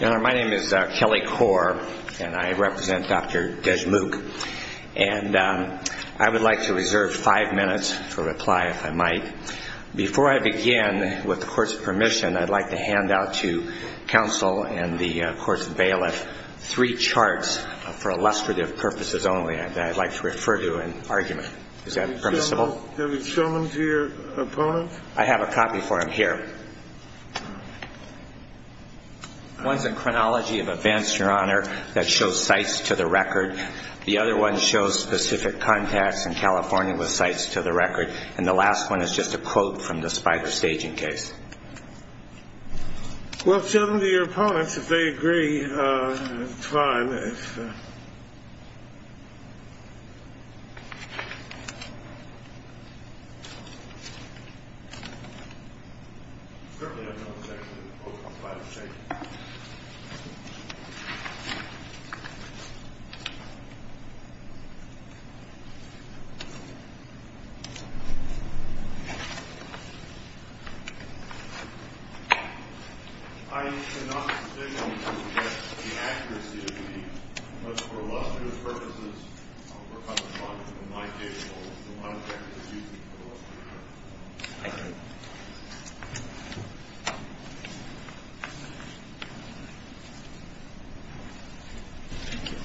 My name is Kelly Corr, and I represent Dr. Deshmukh. And I would like to reserve five minutes for reply, if I might. Before I begin, with the Court's permission, I'd like to hand out to counsel and the Court's bailiff three charts for illustrative purposes only that I'd like to refer to in argument. Is that permissible? Have you shown them to your opponent? I have a copy for him here. One's a chronology of events, Your Honor, that show sites to the record. The other one shows specific contacts in California with sites to the record. And the last one is just a quote from the Spiker staging case. Well, show them to your opponents, if they agree. I cannot decisively suggest the accuracy of these, but for illustrative purposes, I'll work on the charges from my table, so I'm happy to use them for illustrative purposes. Thank you.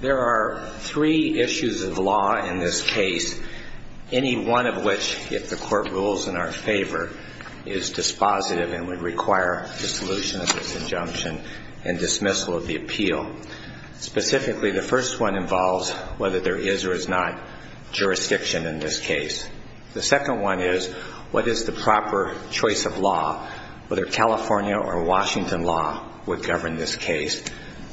There are three issues of law in this case, any one of which, if the Court rules in our favor, is dispositive and would require dissolution of this injunction and dismissal of the appeal. The first one involves whether there is or is not jurisdiction in this case. The second one is what is the proper choice of law, whether California or Washington law would govern this case.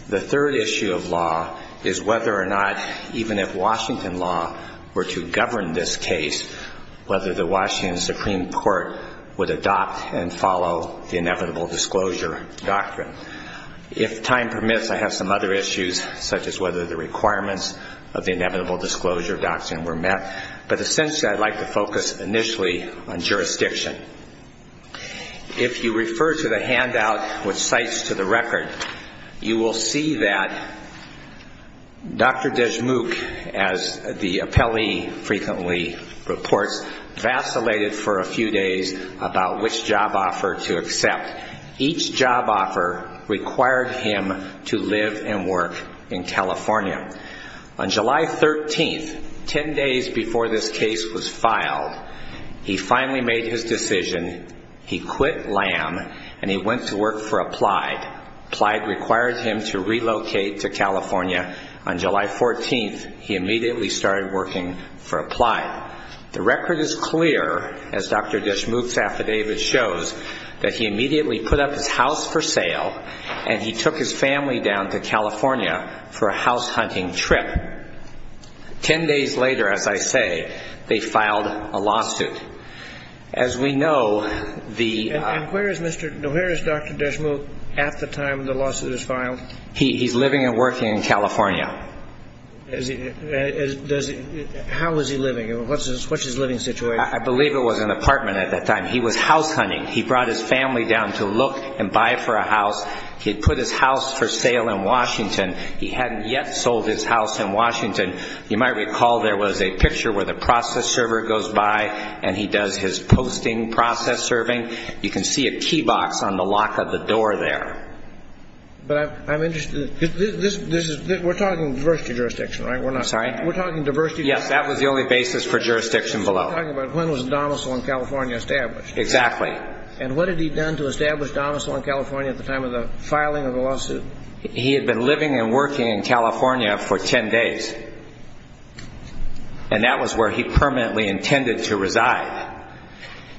The third issue of law is whether or not, even if Washington law were to govern this case, whether the Washington Supreme Court would adopt and follow the inevitable disclosure doctrine. If time permits, I have some other issues, such as whether the requirements of the inevitable disclosure doctrine were met. But essentially, I'd like to focus initially on jurisdiction. If you refer to the handout with sites to the record, you will see that Dr. Deshmukh, as the appellee frequently reports, vacillated for a few days about which job offer to accept. Each job offer required him to live and work in California. On July 13th, 10 days before this case was filed, he finally made his decision. He quit LAM and he went to work for Applied. Applied required him to relocate to California. On July 14th, he immediately started working for Applied. The record is clear, as Dr. Deshmukh's affidavit shows, that he immediately put up his house for sale and he took his family down to California for a house hunting trip. Ten days later, as I say, they filed a lawsuit. As we know, the ---- And where is Dr. Deshmukh at the time the lawsuit is filed? He's living and working in California. How is he living? What's his living situation? I believe it was an apartment at that time. He was house hunting. He brought his family down to look and buy for a house. He had put his house for sale in Washington. He hadn't yet sold his house in Washington. You might recall there was a picture where the process server goes by and he does his posting process serving. You can see a key box on the lock of the door there. But I'm interested. We're talking diversity jurisdiction, right? I'm sorry? We're talking diversity jurisdiction. Yes, that was the only basis for jurisdiction below. You're talking about when was the domicile in California established. Exactly. And what had he done to establish domicile in California at the time of the filing of the lawsuit? He had been living and working in California for ten days, and that was where he permanently intended to reside.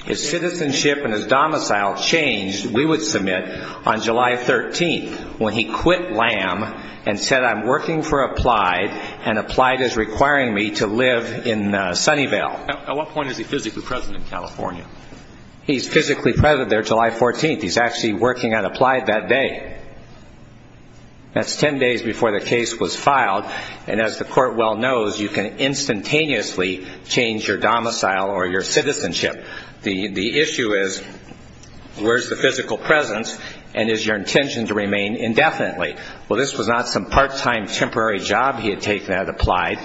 His citizenship and his domicile changed, we would submit, on July 13th when he quit LAM and said, I'm working for Applied, and Applied is requiring me to live in Sunnyvale. At what point is he physically present in California? He's physically present there July 14th. He's actually working at Applied that day. That's ten days before the case was filed, and as the court well knows, you can instantaneously change your domicile or your citizenship. The issue is where's the physical presence and is your intention to remain indefinitely? Well, this was not some part-time temporary job he had taken at Applied.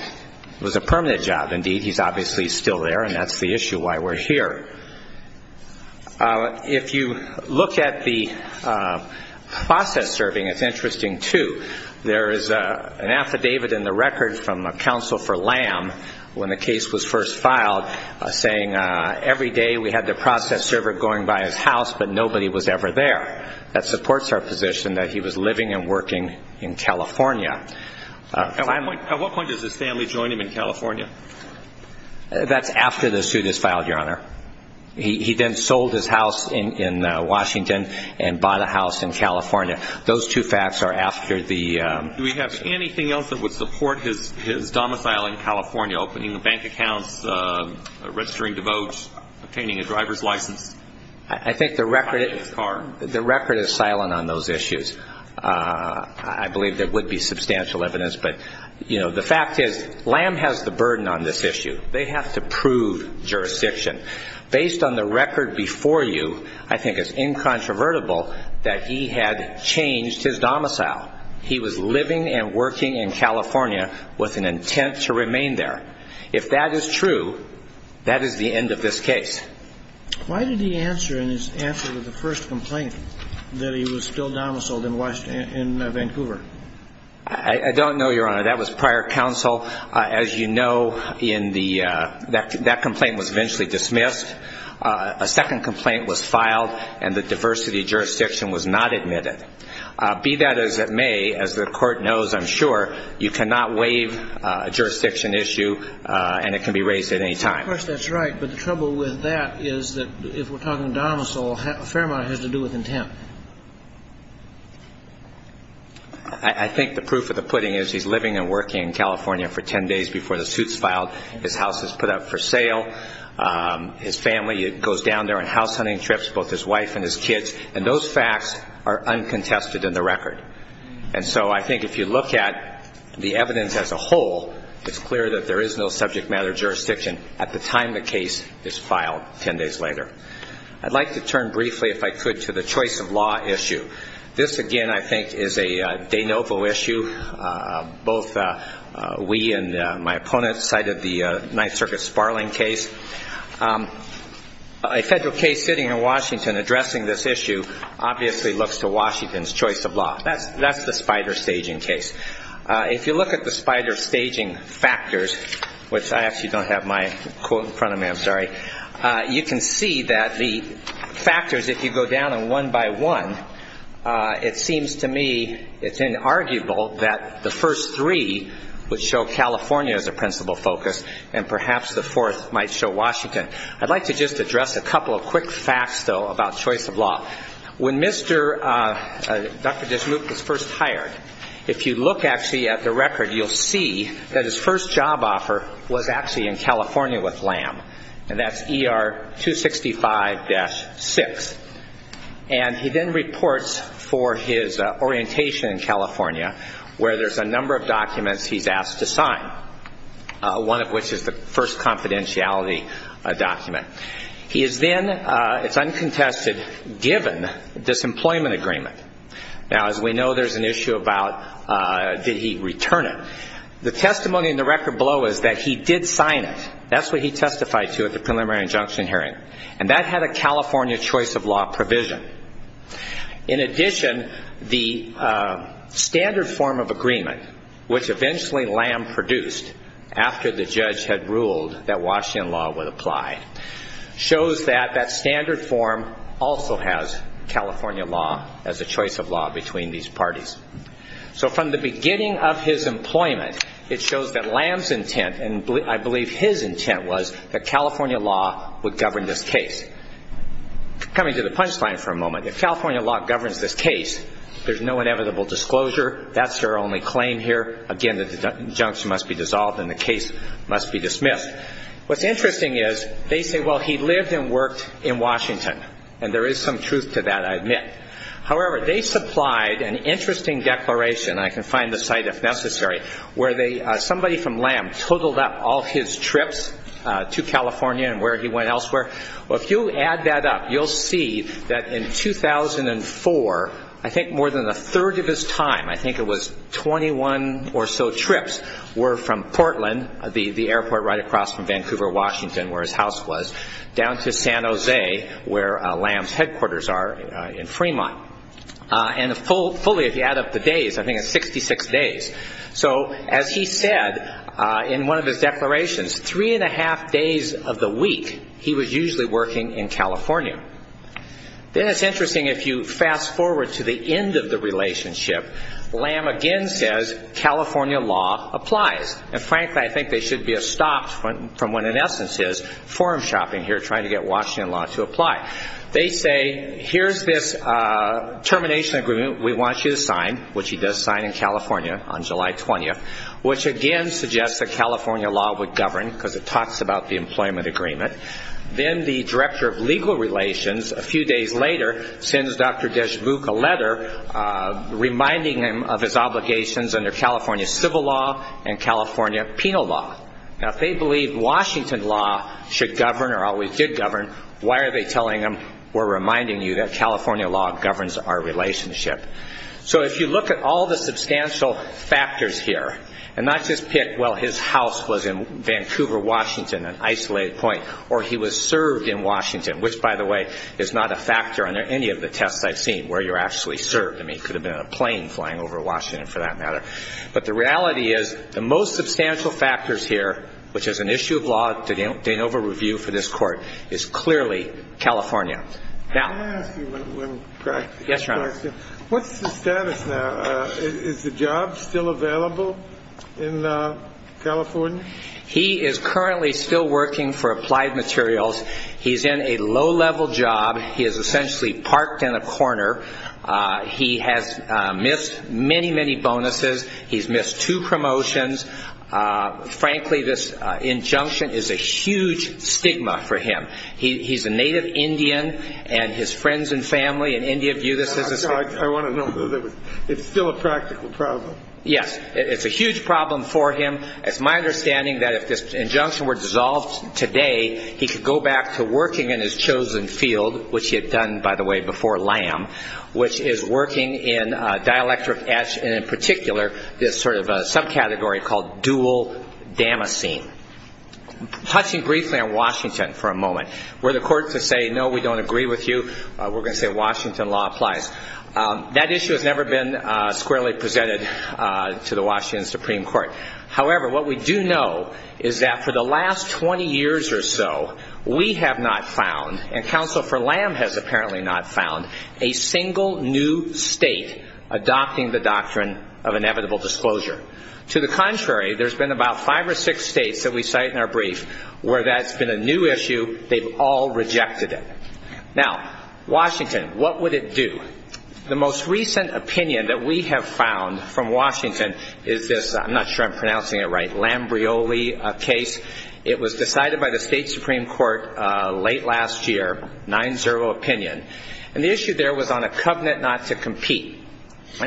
It was a permanent job, indeed. He's obviously still there, and that's the issue why we're here. If you look at the process serving, it's interesting, too. There is an affidavit in the record from counsel for LAM when the case was first filed saying every day we had the process server going by his house, but nobody was ever there. That supports our position that he was living and working in California. At what point does his family join him in California? That's after the suit is filed, Your Honor. He then sold his house in Washington and bought a house in California. Those two facts are after the- Do we have anything else that would support his domicile in California, opening a bank account, registering to vote, obtaining a driver's license? I think the record is silent on those issues. I believe there would be substantial evidence. But, you know, the fact is LAM has the burden on this issue. They have to prove jurisdiction. Based on the record before you, I think it's incontrovertible that he had changed his domicile. He was living and working in California with an intent to remain there. If that is true, that is the end of this case. Why did he answer in his answer to the first complaint that he was still domiciled in Vancouver? I don't know, Your Honor. That was prior counsel. As you know, that complaint was eventually dismissed. A second complaint was filed, and the diversity of jurisdiction was not admitted. Be that as it may, as the court knows, I'm sure, you cannot waive a jurisdiction issue, and it can be raised at any time. Of course, that's right. But the trouble with that is that if we're talking domicile, a fair amount of it has to do with intent. I think the proof of the pudding is he's living and working in California for 10 days before the suit's filed. His house is put up for sale. His family goes down there on house hunting trips, both his wife and his kids, and those facts are uncontested in the record. And so I think if you look at the evidence as a whole, it's clear that there is no subject matter jurisdiction at the time the case is filed 10 days later. I'd like to turn briefly, if I could, to the choice of law issue. This, again, I think is a de novo issue. Both we and my opponents cited the Ninth Circuit Sparling case. A federal case sitting in Washington addressing this issue obviously looks to Washington's choice of law. That's the spider staging case. If you look at the spider staging factors, which I actually don't have my quote in front of me, I'm sorry, you can see that the factors, if you go down them one by one, it seems to me it's inarguable that the first three would show California as a principal focus and perhaps the fourth might show Washington. I'd like to just address a couple of quick facts, though, about choice of law. When Mr. Dr. Dershowitz was first hired, if you look actually at the record, you'll see that his first job offer was actually in California with LAM. And that's ER 265-6. And he then reports for his orientation in California where there's a number of documents he's asked to sign, one of which is the first confidentiality document. He is then, it's uncontested, given a disemployment agreement. Now, as we know, there's an issue about did he return it. The testimony in the record below is that he did sign it. That's what he testified to at the preliminary injunction hearing. And that had a California choice of law provision. In addition, the standard form of agreement, which eventually LAM produced after the judge had ruled that Washington law would apply, shows that that standard form also has California law as a choice of law between these parties. So from the beginning of his employment, it shows that LAM's intent, and I believe his intent was that California law would govern this case. Coming to the punchline for a moment, if California law governs this case, there's no inevitable disclosure. That's their only claim here. Again, the injunction must be dissolved and the case must be dismissed. What's interesting is they say, well, he lived and worked in Washington. And there is some truth to that, I admit. However, they supplied an interesting declaration, and I can find the site if necessary, where somebody from LAM totaled up all his trips to California and where he went elsewhere. Well, if you add that up, you'll see that in 2004, I think more than a third of his time, I think it was 21 or so trips, were from Portland, the airport right across from Vancouver, Washington where his house was, down to San Jose where LAM's headquarters are in Fremont. And fully, if you add up the days, I think it's 66 days. So as he said in one of his declarations, three and a half days of the week, he was usually working in California. Then it's interesting if you fast forward to the end of the relationship, LAM again says California law applies. And frankly, I think they should be stopped from what in essence is forum shopping here, trying to get Washington law to apply. They say, here's this termination agreement we want you to sign, which he does sign in California on July 20th, which again suggests that California law would govern because it talks about the employment agreement. Then the director of legal relations a few days later sends Dr. Deshbouk a letter reminding him of his obligations under California civil law and California penal law. Now if they believe Washington law should govern or always did govern, why are they telling him we're reminding you that California law governs our relationship? So if you look at all the substantial factors here, and not just pick, well, his house was in Vancouver, Washington, an isolated point, or he was served in Washington, which by the way, is not a factor under any of the tests I've seen where you're actually served. I mean, he could have been on a plane flying over Washington for that matter. But the reality is the most substantial factors here, which is an issue of law to de novo review for this court, is clearly California. Now. Let me ask you one question. Yes, Your Honor. What's the status now? Is the job still available in California? He is currently still working for Applied Materials. He's in a low-level job. He is essentially parked in a corner. He has missed many, many bonuses. He's missed two promotions. Frankly, this injunction is a huge stigma for him. He's a native Indian, and his friends and family in India view this as a stigma. I want to know. It's still a practical problem. Yes. It's a huge problem for him. It's my understanding that if this injunction were dissolved today, he could go back to working in his chosen field, which he had done, by the way, before LAM, which is working in dielectric etch and in particular this sort of subcategory called dual damascene. Touching briefly on Washington for a moment, where the courts would say, no, we don't agree with you, we're going to say Washington law applies. That issue has never been squarely presented to the Washington Supreme Court. However, what we do know is that for the last 20 years or so, we have not found, and counsel for LAM has apparently not found, a single new state adopting the doctrine of inevitable disclosure. To the contrary, there's been about five or six states that we cite in our brief where that's been a new issue. They've all rejected it. Now, Washington, what would it do? The most recent opinion that we have found from Washington is this, I'm not sure I'm pronouncing it right, Lambrioli case. It was decided by the state Supreme Court late last year, 9-0 opinion. And the issue there was on a covenant not to compete.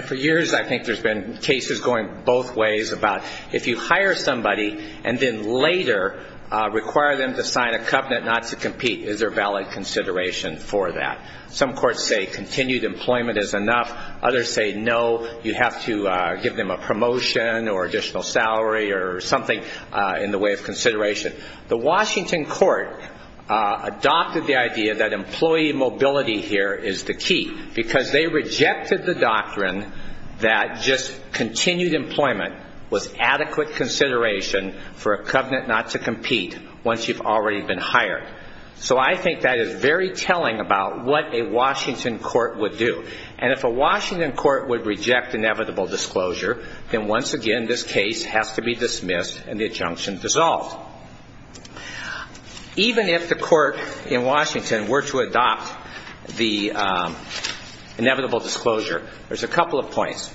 For years I think there's been cases going both ways about if you hire somebody and then later require them to sign a covenant not to compete, is there valid consideration for that? Some courts say continued employment is enough. Others say, no, you have to give them a promotion or additional salary or something in the way of consideration. The Washington court adopted the idea that employee mobility here is the key because they rejected the doctrine that just continued employment was adequate consideration for a covenant not to compete once you've already been hired. So I think that is very telling about what a Washington court would do. And if a Washington court would reject inevitable disclosure, then once again this case has to be dismissed and the injunction dissolved. Even if the court in Washington were to adopt the inevitable disclosure, there's a couple of points.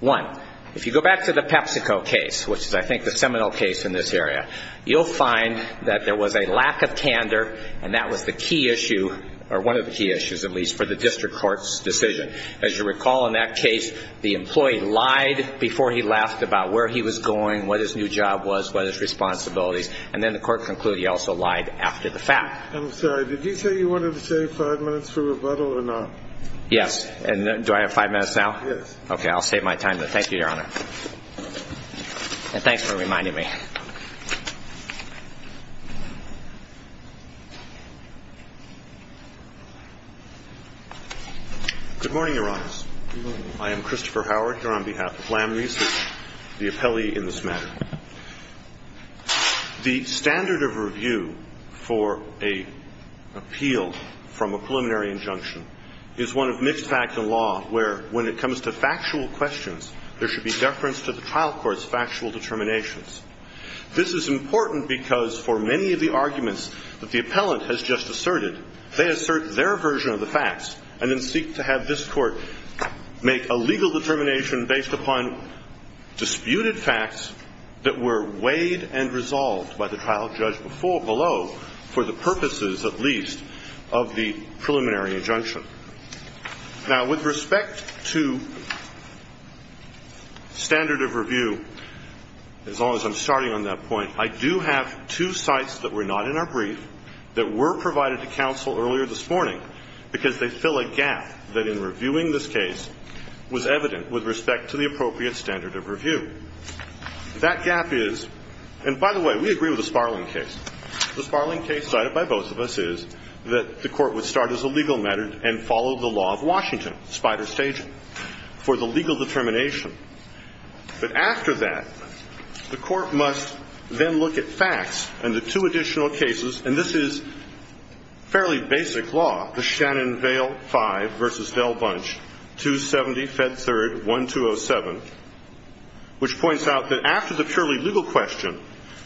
One, if you go back to the PepsiCo case, which is I think the seminal case in this area, you'll find that there was a lack of candor, and that was the key issue or one of the key issues at least for the district court's decision. As you recall in that case, the employee lied before he left about where he was going, what his new job was, what his responsibilities, and then the court concluded he also lied after the fact. I'm sorry. Did you say you wanted to save five minutes for rebuttal or not? Yes. Do I have five minutes now? Yes. Okay. I'll save my time then. Thank you, Your Honor. And thanks for reminding me. Good morning, Your Honors. Good morning. I am Christopher Howard here on behalf of LAM Research, the appellee in this matter. The standard of review for an appeal from a preliminary injunction is one of mixed fact and law where when it comes to factual questions, there should be deference to the trial court's factual determinations. This is important because for many of the arguments that the appellant has just asserted, they assert their version of the facts and then seek to have this court make a legal determination based upon disputed facts that were weighed and resolved by the trial judge before below for the purposes, at least, of the preliminary injunction. Now, with respect to standard of review, as long as I'm starting on that point, I do have two sites that were not in our brief that were provided to counsel earlier this morning because they fill a gap that in reviewing this case was evident with respect to the appropriate standard of review. That gap is ñ and by the way, we agree with the Sparling case. The Sparling case cited by both of us is that the court would start as a legal matter and follow the law of Washington, spider staging, for the legal determination. But after that, the court must then look at facts and the two additional cases, and this is fairly basic law, the Shannon Vale 5 v. Dell Bunch, 270 Fed 3rd, 1207, which points out that after the purely legal question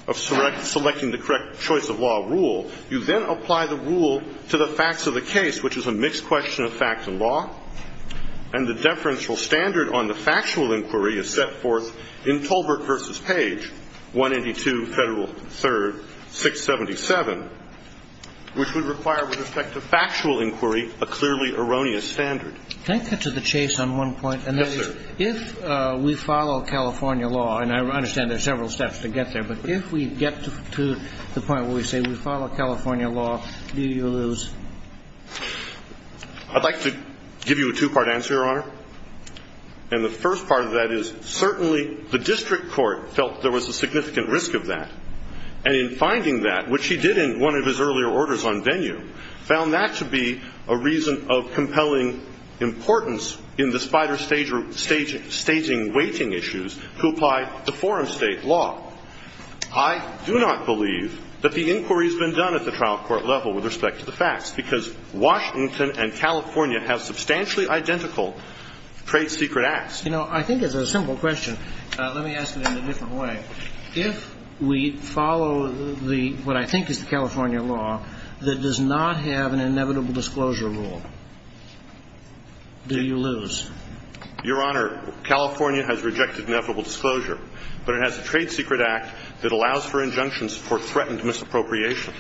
of selecting the correct choice of law rule, you then apply the rule to the facts of the case, which is a mixed question of facts and law, and the deferential standard on the factual inquiry is set forth in Tolbert v. Page, 182 Federal 3rd, 677, which would require with respect to factual inquiry a clearly erroneous standard. Can I cut to the chase on one point? Yes, sir. And that is if we follow California law, and I understand there are several steps to get there, but if we get to the point where we say we follow California law, do you lose? I'd like to give you a two-part answer, Your Honor. And the first part of that is certainly the district court felt there was a significant risk of that, and in finding that, which he did in one of his earlier orders on venue, found that to be a reason of compelling importance in the spider staging weighting issues to apply the foreign state law. I do not believe that the inquiry has been done at the trial court level with respect to the facts, because Washington and California have substantially identical trade secret acts. You know, I think it's a simple question. Let me ask it in a different way. If we follow what I think is the California law that does not have an inevitable disclosure rule, do you lose? Your Honor, California has rejected inevitable disclosure, but it has a trade secret act that allows for injunctions for threatened misappropriation.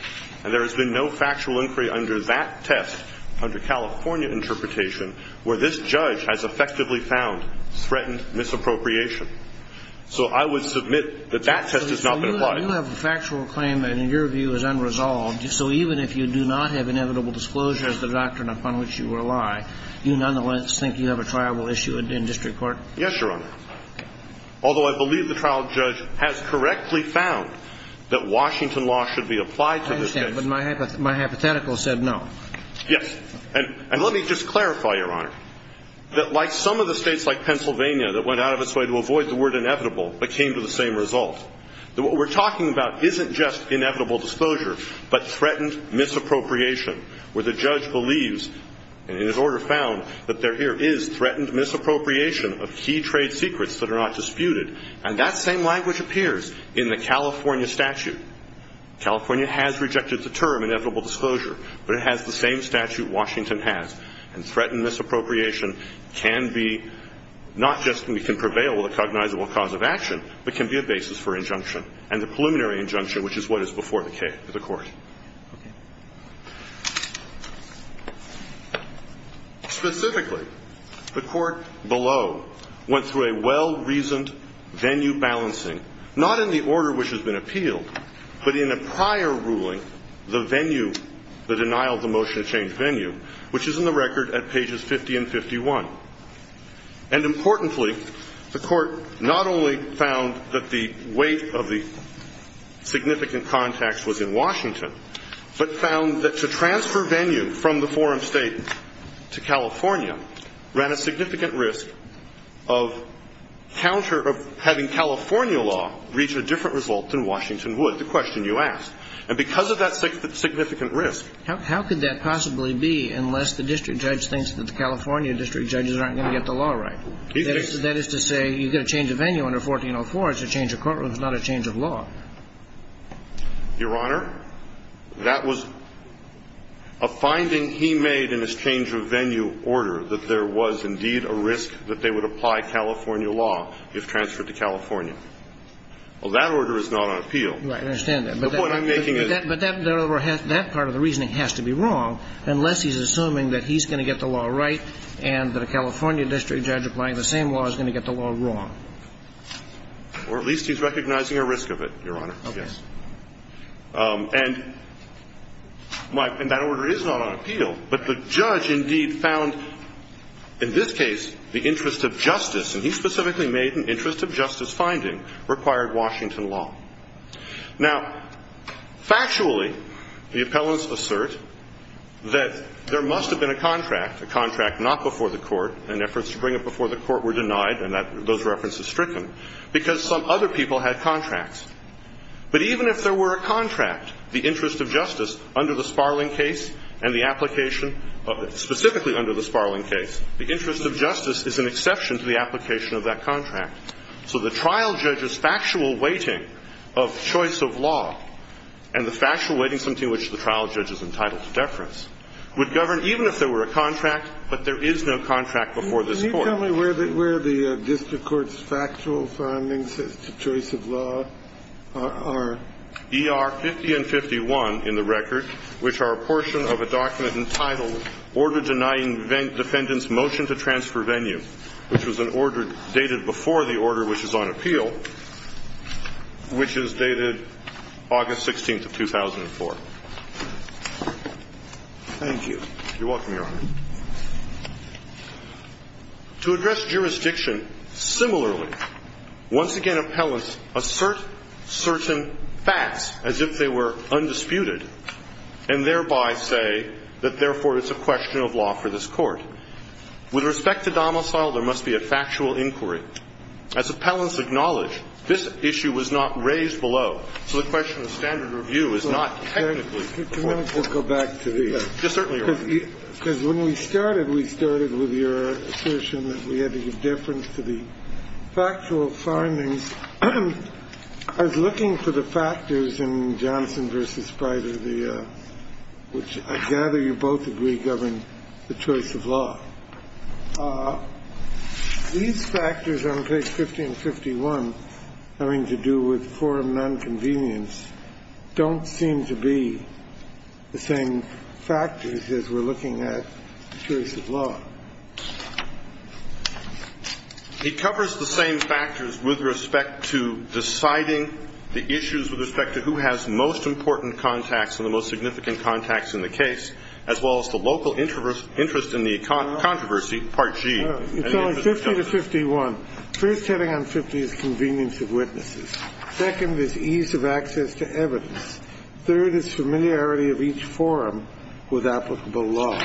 And there has been no factual inquiry under that test, under California interpretation, where this judge has effectively found threatened misappropriation. So I would submit that that test has not been applied. So you have a factual claim that in your view is unresolved, so even if you do not have inevitable disclosure as the doctrine upon which you rely, you nonetheless think you have a trial issue in district court? Yes, Your Honor. Although I believe the trial judge has correctly found that Washington law should be applied to this case. I understand, but my hypothetical said no. Yes. And let me just clarify, Your Honor, that like some of the states like Pennsylvania that went out of its way to avoid the word inevitable but came to the same result. What we're talking about isn't just inevitable disclosure, but threatened misappropriation, where the judge believes, and his order found, that there is threatened misappropriation of key trade secrets that are not disputed. And that same language appears in the California statute. California has rejected the term inevitable disclosure, but it has the same statute Washington has. And threatened misappropriation can be not just we can prevail with a cognizable cause of action, but can be a basis for injunction and the preliminary injunction, which is what is before the court. Specifically, the court below went through a well-reasoned venue balancing, not in the order which has been appealed, but in a prior ruling, the venue, the California law, that has been transferred from the forum State to California and is in the record at pages 50 and 51. And importantly, the court not only found that the weight of the significant context was in Washington, but found that to transfer venue from the forum State to California ran a significant risk of counter of having California law reach a different result than Washington would. The question you asked. And because of that significant risk. How could that possibly be unless the district judge thinks that the California district judges aren't going to get the law right? That is to say, you get a change of venue under 1404, it's a change of courtroom, it's not a change of law. Your Honor, that was a finding he made in his change of venue order, that there was indeed a risk that they would apply California law if transferred to California. Well, that order is not on appeal. Right. I understand that. The point I'm making is. But that part of the reasoning has to be wrong unless he's assuming that he's going to get the law right and that a California district judge applying the same law is going to get the law wrong. Or at least he's recognizing a risk of it, Your Honor. Okay. Yes. And that order is not on appeal, but the judge indeed found in this case the interest of justice, and he specifically made an interest of justice finding, required Washington law. Now, factually, the appellants assert that there must have been a contract, a contract not before the court, and efforts to bring it before the court were denied and those references stricken, because some other people had contracts. But even if there were a contract, the interest of justice under the Sparling case and the application of it, specifically under the Sparling case, the interest of justice is an exception to the application of that contract. So the trial judge's factual weighting of choice of law and the factual weighting of something which the trial judge is entitled to deference would govern even if there were a contract, but there is no contract before this court. Can you tell me where the district court's factual findings as to choice of law are? ER 50 and 51 in the record, which are a portion of a document entitled, Order Denying Defendant's Motion to Transfer Venue, which was an order dated before the order which is on appeal, which is dated August 16th of 2004. Thank you. You're welcome, Your Honor. To address jurisdiction similarly, once again appellants assert certain facts as if they were undisputed, and thereby say that, therefore, it's a question of law for this court. With respect to domicile, there must be a factual inquiry. As appellants acknowledge, this issue was not raised below. So the question of standard review is not technically important. Can I just go back to these? Yes, certainly, Your Honor. Because when we started, we started with your assertion that we had to give deference to the factual findings. I was looking for the factors in Johnson v. Pryor, which I gather you both agree govern the choice of law. These factors on page 50 and 51 having to do with forum nonconvenience don't seem to be the same factors as we're looking at the choice of law. It covers the same factors with respect to deciding the issues with respect to who has most important contacts and the most significant contacts in the case, as well as the local interest in the controversy, part G. It's only 50 to 51. First, hitting on 50 is convenience of witnesses. Second is ease of access to evidence. Third is familiarity of each forum with applicable law.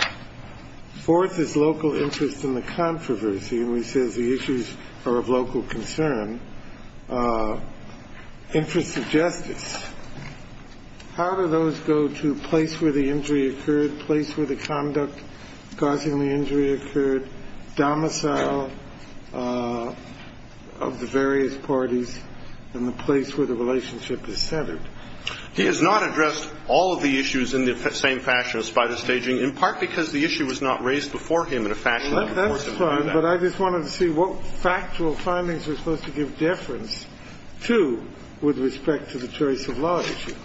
Fourth is local interest in the controversy. And we say the issues are of local concern. Interest of justice. How do those go to place where the injury occurred, place where the conduct causing the injury occurred, domicile of the various parties, and the place where the relationship is centered? He has not addressed all of the issues in the same fashion as spider staging, in part because the issue was not raised before him in a fashion that would force him to do that. Well, that's fine, but I just wanted to see what factual findings are supposed to give deference to with respect to the choice of law issue.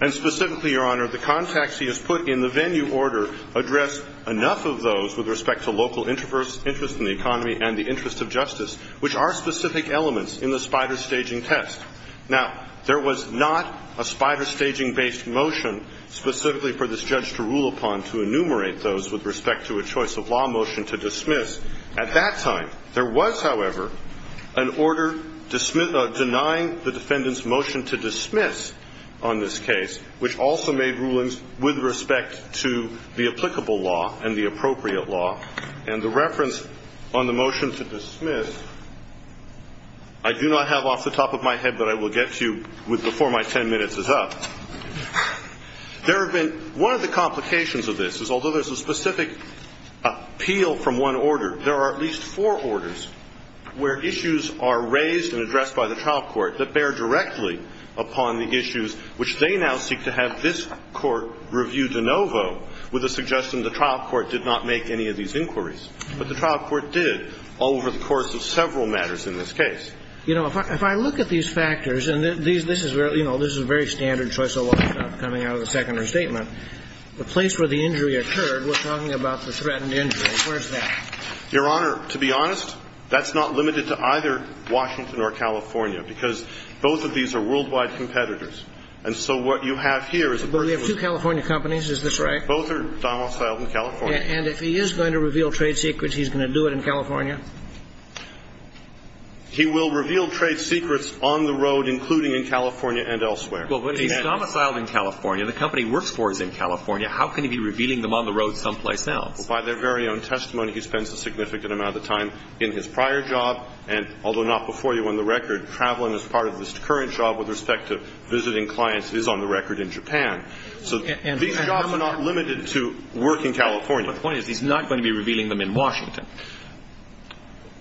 And specifically, Your Honor, the contacts he has put in the venue order address enough of those with respect to local interest in the economy and the interest of justice, which are specific elements in the spider staging test. Now, there was not a spider staging-based motion specifically for this judge to rule upon to enumerate those with respect to a choice of law motion to dismiss. At that time, there was, however, an order denying the defendant's motion to dismiss on this case, which also made rulings with respect to the applicable law and the appropriate law. And the reference on the motion to dismiss, I do not have off the top of my head that I will get to before my 10 minutes is up. There have been one of the complications of this is although there's a specific appeal from one order, there are at least four orders where issues are raised and addressed by the trial court that bear directly upon the issues which they now seek to have this court review de novo with the suggestion the trial court did not make any of these inquiries. But the trial court did over the course of several matters in this case. You know, if I look at these factors, and this is a very standard choice of law coming out of the second restatement, the place where the injury occurred, we're talking about the threatened injury. Where's that? Your Honor, to be honest, that's not limited to either Washington or California because both of these are worldwide competitors. And so what you have here is a person who's- But we have two California companies. Is this right? Both are done outside of California. And if he is going to reveal trade secrets, he's going to do it in California? He will reveal trade secrets on the road, including in California and elsewhere. Well, but he's domiciled in California. The company he works for is in California. How can he be revealing them on the road someplace else? By their very own testimony, he spends a significant amount of time in his prior job, and although not before you on the record, traveling is part of his current job with respect to visiting clients. It is on the record in Japan. So these jobs are not limited to work in California. My point is he's not going to be revealing them in Washington.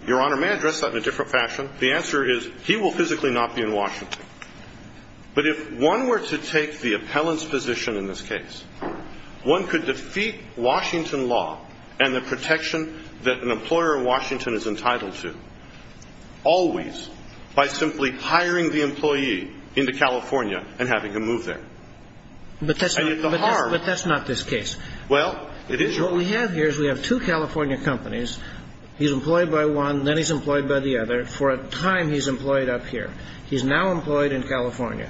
Your Honor, may I address that in a different fashion? The answer is he will physically not be in Washington. But if one were to take the appellant's position in this case, one could defeat Washington law and the protection that an employer in Washington is entitled to always by simply hiring the employee into California and having him move there. But that's not this case. Well, it is your- So what we have here is we have two California companies. He's employed by one, then he's employed by the other for a time he's employed up here. He's now employed in California.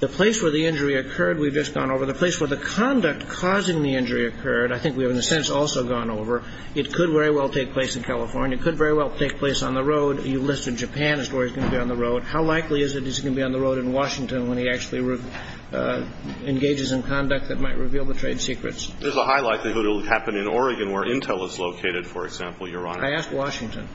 The place where the injury occurred we've just gone over. The place where the conduct causing the injury occurred I think we have in a sense also gone over. It could very well take place in California. It could very well take place on the road. You listed Japan as where he's going to be on the road. How likely is it he's going to be on the road in Washington when he actually engages in conduct that might reveal the trade secrets? There's a high likelihood it will happen in Oregon where Intel is located, for example, Your Honor. I asked Washington.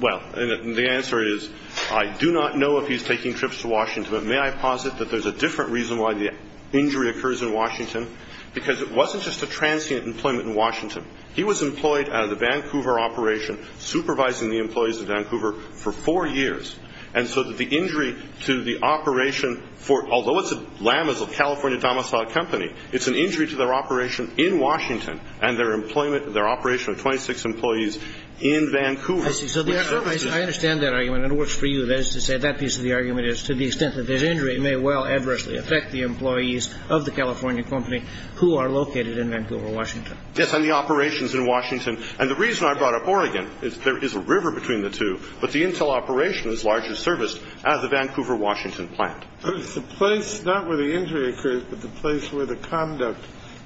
Well, and the answer is I do not know if he's taking trips to Washington, but may I posit that there's a different reason why the injury occurs in Washington, because it wasn't just a transient employment in Washington. He was employed out of the Vancouver operation supervising the employees of Vancouver for four years. And so that the injury to the operation for, although LAM is a California domiciled company, it's an injury to their operation in Washington and their employment, their operation of 26 employees in Vancouver. I see. So I understand that argument. It works for you. That is to say that piece of the argument is to the extent that there's injury, it may well adversely affect the employees of the California company who are located in Vancouver, Washington. Yes, and the operations in Washington. And the reason I brought up Oregon is there is a river between the two, but the Intel operation is largely serviced at the Vancouver Washington plant. It's the place not where the injury occurs, but the place where the conduct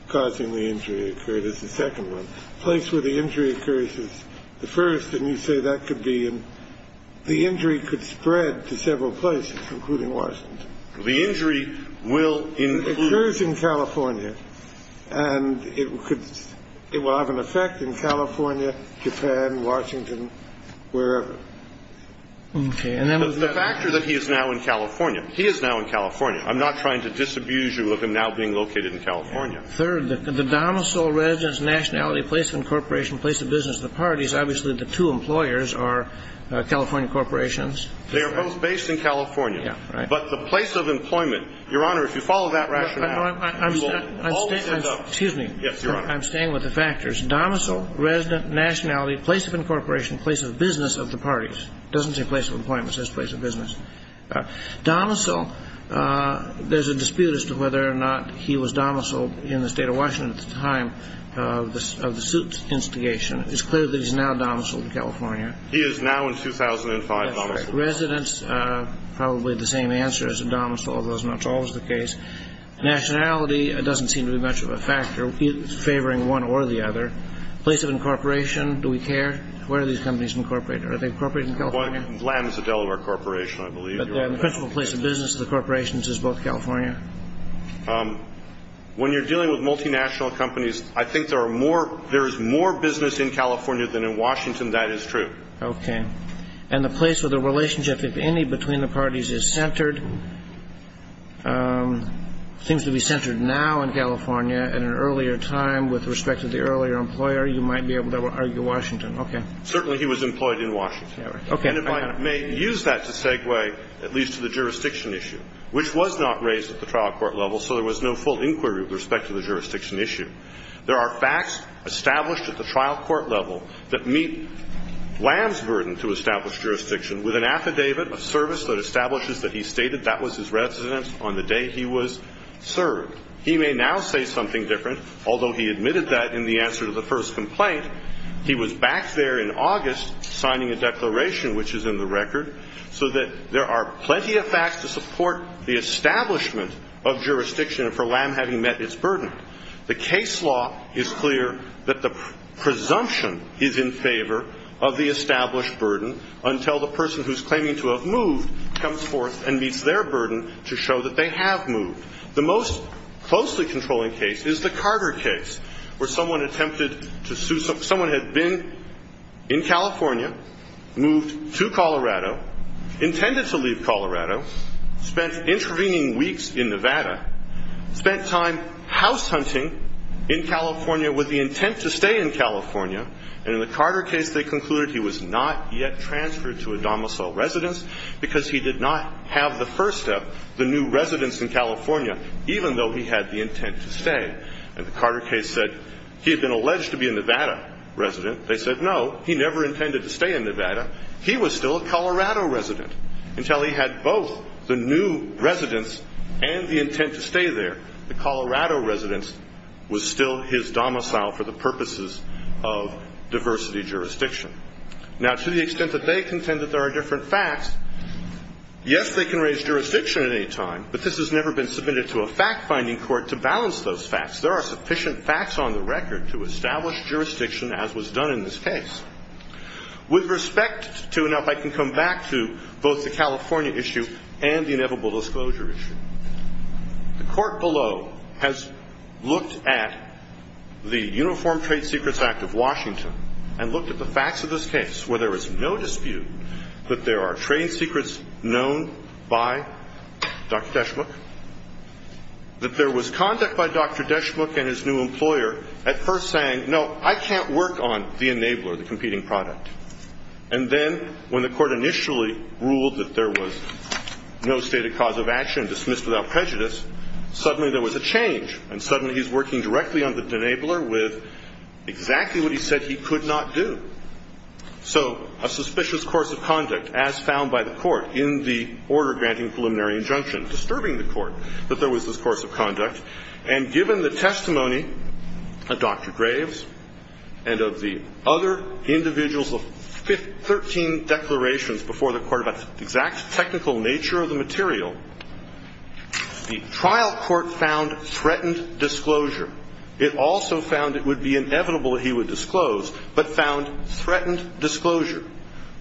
causing the injury occurred is the second one. The place where the injury occurs is the first, and you say that could be in. The injury could spread to several places, including Washington. The injury will include. It occurs in California, and it could, it will have an effect in California, Japan, Washington, wherever. Okay. The factor that he is now in California, he is now in California. I'm not trying to disabuse you of him now being located in California. Third, the domicile, residence, nationality, place of incorporation, place of business of the parties, obviously the two employers are California corporations. They are both based in California. Yeah, right. But the place of employment, Your Honor, if you follow that rationale, you will always end up. Excuse me. Yes, Your Honor. I'm staying with the factors. Domicile, residence, nationality, place of incorporation, place of business of the parties. It doesn't say place of employment. It says place of business. Domicile, there's a dispute as to whether or not he was domiciled in the State of Washington at the time of the suit's instigation. It's clear that he's now domiciled in California. He is now in 2005 domiciled. That's right. Residence, probably the same answer as a domicile, although it's not always the case. Nationality, it doesn't seem to be much of a factor favoring one or the other. Place of incorporation, do we care? Where do these companies incorporate? Are they incorporated in California? Vladden is a Delaware corporation, I believe. But the principal place of business of the corporations is both California? When you're dealing with multinational companies, I think there is more business in California than in Washington. That is true. Okay. And the place or the relationship, if any, between the parties is centered, seems to be centered now in California. At an earlier time, with respect to the earlier employer, you might be able to argue Washington. Okay. Certainly he was employed in Washington. Okay. And if I may use that to segue at least to the jurisdiction issue, which was not raised at the trial court level, so there was no full inquiry with respect to the jurisdiction issue. There are facts established at the trial court level that meet Lam's burden to establish jurisdiction with an affidavit of service that establishes that he stated that was his residence on the day he was served. He may now say something different, although he admitted that in the answer to the first complaint. He was back there in August signing a declaration, which is in the record, so that there are plenty of facts to support the establishment of jurisdiction for Lam having met its burden. The case law is clear that the presumption is in favor of the established burden until the person who's claiming to have moved comes forth and meets their burden to show that they have moved. The most closely controlling case is the Carter case, where someone attempted to sue someone who had been in California, moved to Colorado, intended to leave Colorado, spent intervening weeks in Nevada, spent time house hunting in California with the intent to stay in California, and in the Carter case they concluded he was not yet transferred to a domicile residence because he did not have the first step, the new residence in California, even though he had the intent to stay. And the Carter case said he had been alleged to be a Nevada resident. They said no, he never intended to stay in Nevada. He was still a Colorado resident until he had both the new residence and the intent to stay there. The Colorado residence was still his domicile for the purposes of diversity jurisdiction. Now, to the extent that they contend that there are different facts, yes, they can raise jurisdiction at any time, but this has never been submitted to a fact-finding court to balance those facts. There are sufficient facts on the record to establish jurisdiction, as was done in this case. With respect to, now, if I can come back to both the California issue and the inevitable disclosure issue. The court below has looked at the Uniform Trade Secrets Act of Washington and looked at the facts of this case where there is no dispute that there are trade secrets known by Dr. Deshmukh, that there was conduct by Dr. Deshmukh and his new employer at first saying, no, I can't work on the enabler, the competing product. And then when the court initially ruled that there was no stated cause of action dismissed without prejudice, suddenly there was a change, and suddenly he's working directly on the enabler with exactly what he said he could not do. So a suspicious course of conduct, as found by the court in the order granting preliminary injunction, disturbing the court that there was this course of conduct. And given the testimony of Dr. Graves and of the other individuals of 13 declarations before the court about the exact technical nature of the material, the trial court found threatened disclosure. It also found it would be inevitable that he would disclose, but found threatened disclosure,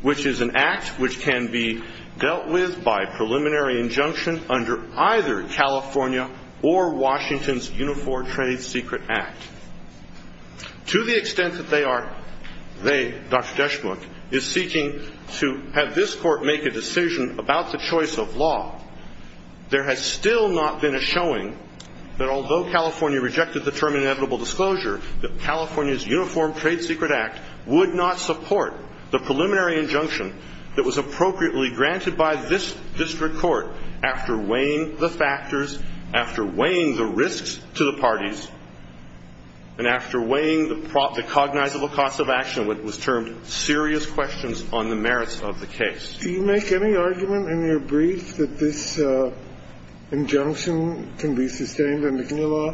which is an act which can be dealt with by preliminary injunction under either California or Washington's Uniform Trade Secret Act. To the extent that they are, they, Dr. Deshmukh, is seeking to have this court make a decision about the choice of law, there has still not been a showing that although California rejected the term inevitable disclosure, that California's Uniform Trade Secret Act would not support the preliminary injunction that was appropriately granted by this district court after weighing the factors, after weighing the risks to the parties, and after weighing the cognizable cause of action, what was termed serious questions on the merits of the case. Do you make any argument in your brief that this injunction can be sustained under the law?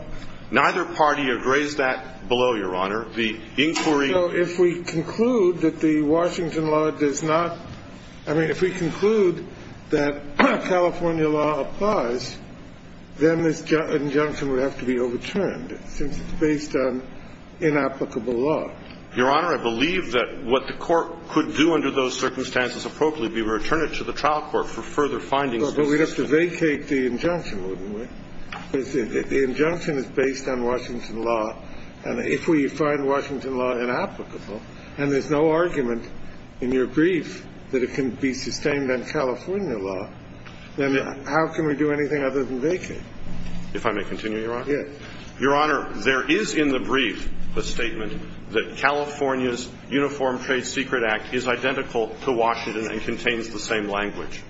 Neither party agrees that below, Your Honor. The inquiry So if we conclude that the Washington law does not, I mean, if we conclude that California law applies, then this injunction would have to be overturned, since it's based on inapplicable law. Your Honor, I believe that what the court could do under those circumstances appropriately be return it to the trial court for further findings. But we'd have to vacate the injunction, wouldn't we? The injunction is based on Washington law, and if we find Washington law inapplicable and there's no argument in your brief that it can be sustained on California law, then how can we do anything other than vacate? If I may continue, Your Honor. Yes. Your Honor, there is in the brief a statement that California's Uniform Trade Secret Act is identical to Washington and contains the same language.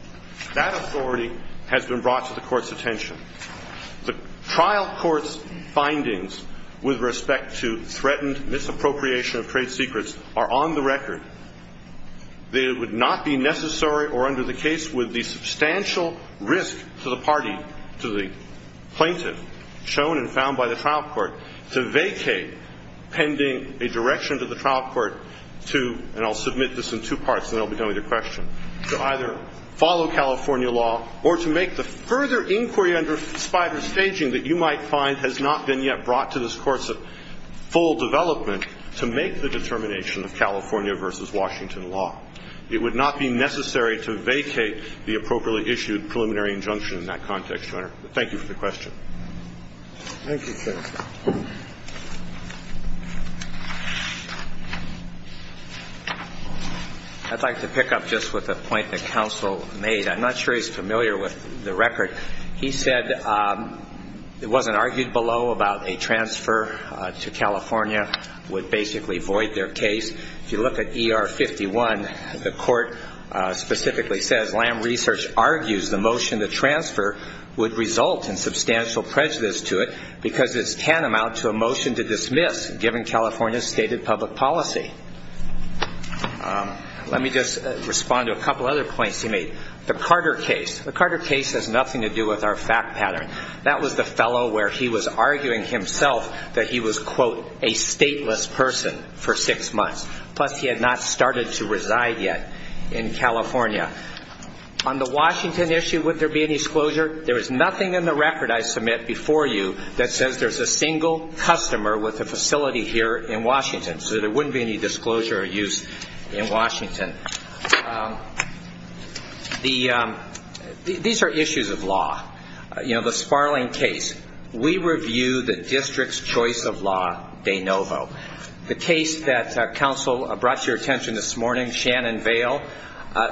That authority has been brought to the court's attention. The trial court's findings with respect to threatened misappropriation of trade secrets are on the record. They would not be necessary or under the case with the substantial risk to the party, to the plaintiff shown and found by the trial court to vacate pending a direction to the trial court to, and I'll submit this in two parts and then I'll be done with your question, to either follow California law or to make the further inquiry under spider staging that you might find has not been yet brought to this court's full development to make the determination of California versus Washington law. It would not be necessary to vacate the appropriately issued preliminary injunction in that context, Your Honor. Thank you for the question. Thank you, sir. I'd like to pick up just with a point that counsel made. I'm not sure he's familiar with the record. He said it wasn't argued below about a transfer to California would basically void their case. If you look at ER 51, the court specifically says, Lamb Research argues the motion to transfer would result in substantial prejudice to it because it's tantamount to a motion to dismiss given California's stated public policy. Let me just respond to a couple other points he made. The Carter case. The Carter case has nothing to do with our fact pattern. person for six months, plus he had not started to reside yet in California. On the Washington issue, would there be any disclosure? There is nothing in the record I submit before you that says there's a single customer with a facility here in Washington, so there wouldn't be any disclosure or use in Washington. These are issues of law. You know, the Sparling case. We review the district's choice of law de novo. The case that counsel brought to your attention this morning, Shannon Vale,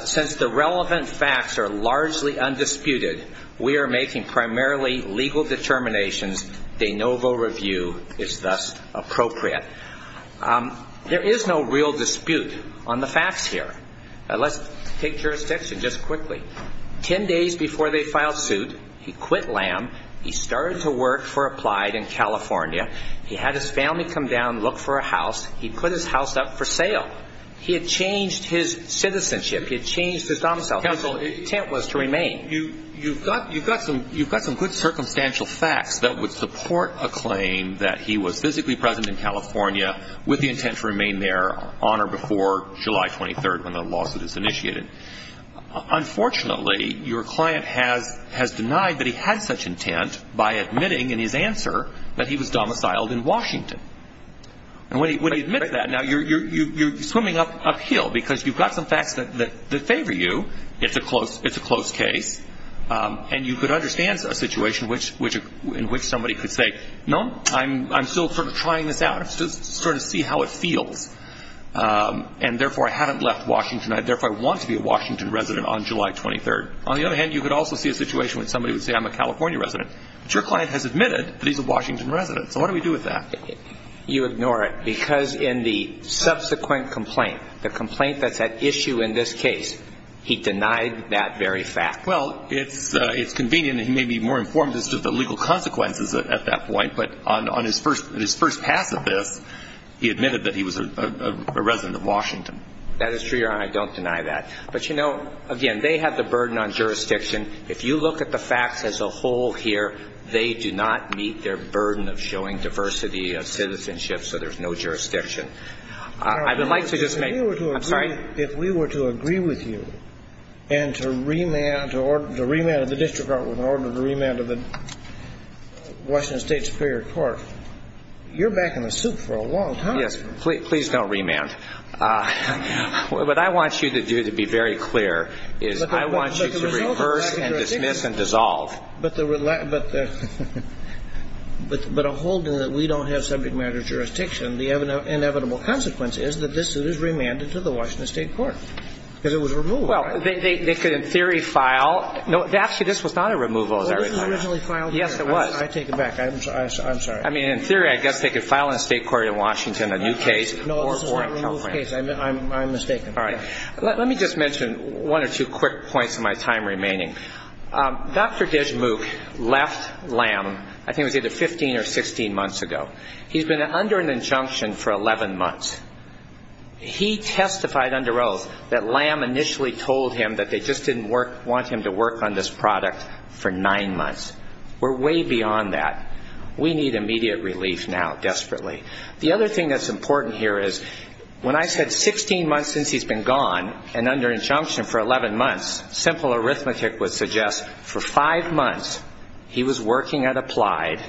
since the relevant facts are largely undisputed, we are making primarily legal determinations. De novo review is thus appropriate. There is no real dispute on the facts here. Let's take jurisdiction just quickly. Ten days before they filed suit, he quit LAM. He started to work for Applied in California. He had his family come down, look for a house. He put his house up for sale. He had changed his citizenship. He had changed his domicile. Counsel, his intent was to remain. You've got some good circumstantial facts that would support a claim that he was physically present in California with the intent to remain there on or before July 23rd when the lawsuit is initiated. Unfortunately, your client has denied that he had such intent by admitting in his answer that he was domiciled in Washington. And when he admits that, now, you're swimming uphill because you've got some facts that favor you. It's a close case. And you could understand a situation in which somebody could say, no, I'm still sort of trying this out. I'm still starting to see how it feels. And, therefore, I haven't left Washington. I, therefore, want to be a Washington resident on July 23rd. On the other hand, you could also see a situation when somebody would say, I'm a California resident. But your client has admitted that he's a Washington resident. So what do we do with that? You ignore it because in the subsequent complaint, the complaint that's at issue in this case, he denied that very fact. Well, it's convenient that he may be more informed as to the legal consequences at that point. But on his first pass at this, he admitted that he was a resident of Washington. That is true, Your Honor. I don't deny that. But, you know, again, they have the burden on jurisdiction. If you look at the facts as a whole here, they do not meet their burden of showing diversity of citizenship. So there's no jurisdiction. I would like to just make – I'm sorry? If we were to agree with you and to remand the district court with an order to remand the Washington State Superior Court, you're back in the soup for a long time. Yes. Please don't remand. What I want you to do, to be very clear, is I want you to reverse and dismiss and dissolve. But a hold that we don't have subject matter jurisdiction, the inevitable consequence is that this is remanded to the Washington State court because it was removed. Well, they could in theory file – actually, this was not a removal, as I recall. Well, this was originally filed here. Yes, it was. I take it back. I'm sorry. I mean, in theory, I guess they could file in a state court in Washington a new case. No, this is not a removed case. I'm mistaken. All right. Let me just mention one or two quick points in my time remaining. Dr. Deshmukh left LAM, I think it was either 15 or 16 months ago. He's been under an injunction for 11 months. He testified under oath that LAM initially told him that they just didn't want him to work on this product for nine months. We're way beyond that. We need immediate relief now desperately. The other thing that's important here is when I said 16 months since he's been gone and under injunction for 11 months, simple arithmetic would suggest for five months he was working at applied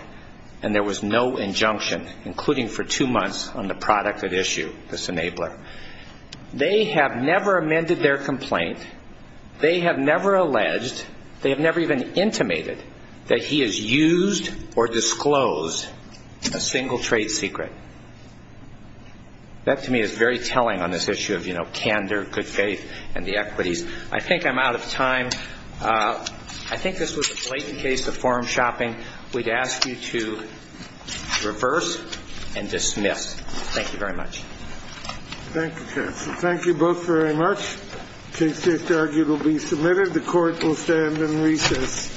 and there was no injunction, including for two months, on the product at issue, this enabler. They have never amended their complaint. They have never alleged, they have never even intimated that he has used or disclosed a single trade secret. That to me is very telling on this issue of, you know, candor, good faith and the equities. I think I'm out of time. I think this was a blatant case of form shopping. We'd ask you to reverse and dismiss. Thank you very much. Thank you, counsel. Thank you both very much. It will be submitted. The court will stand in recess.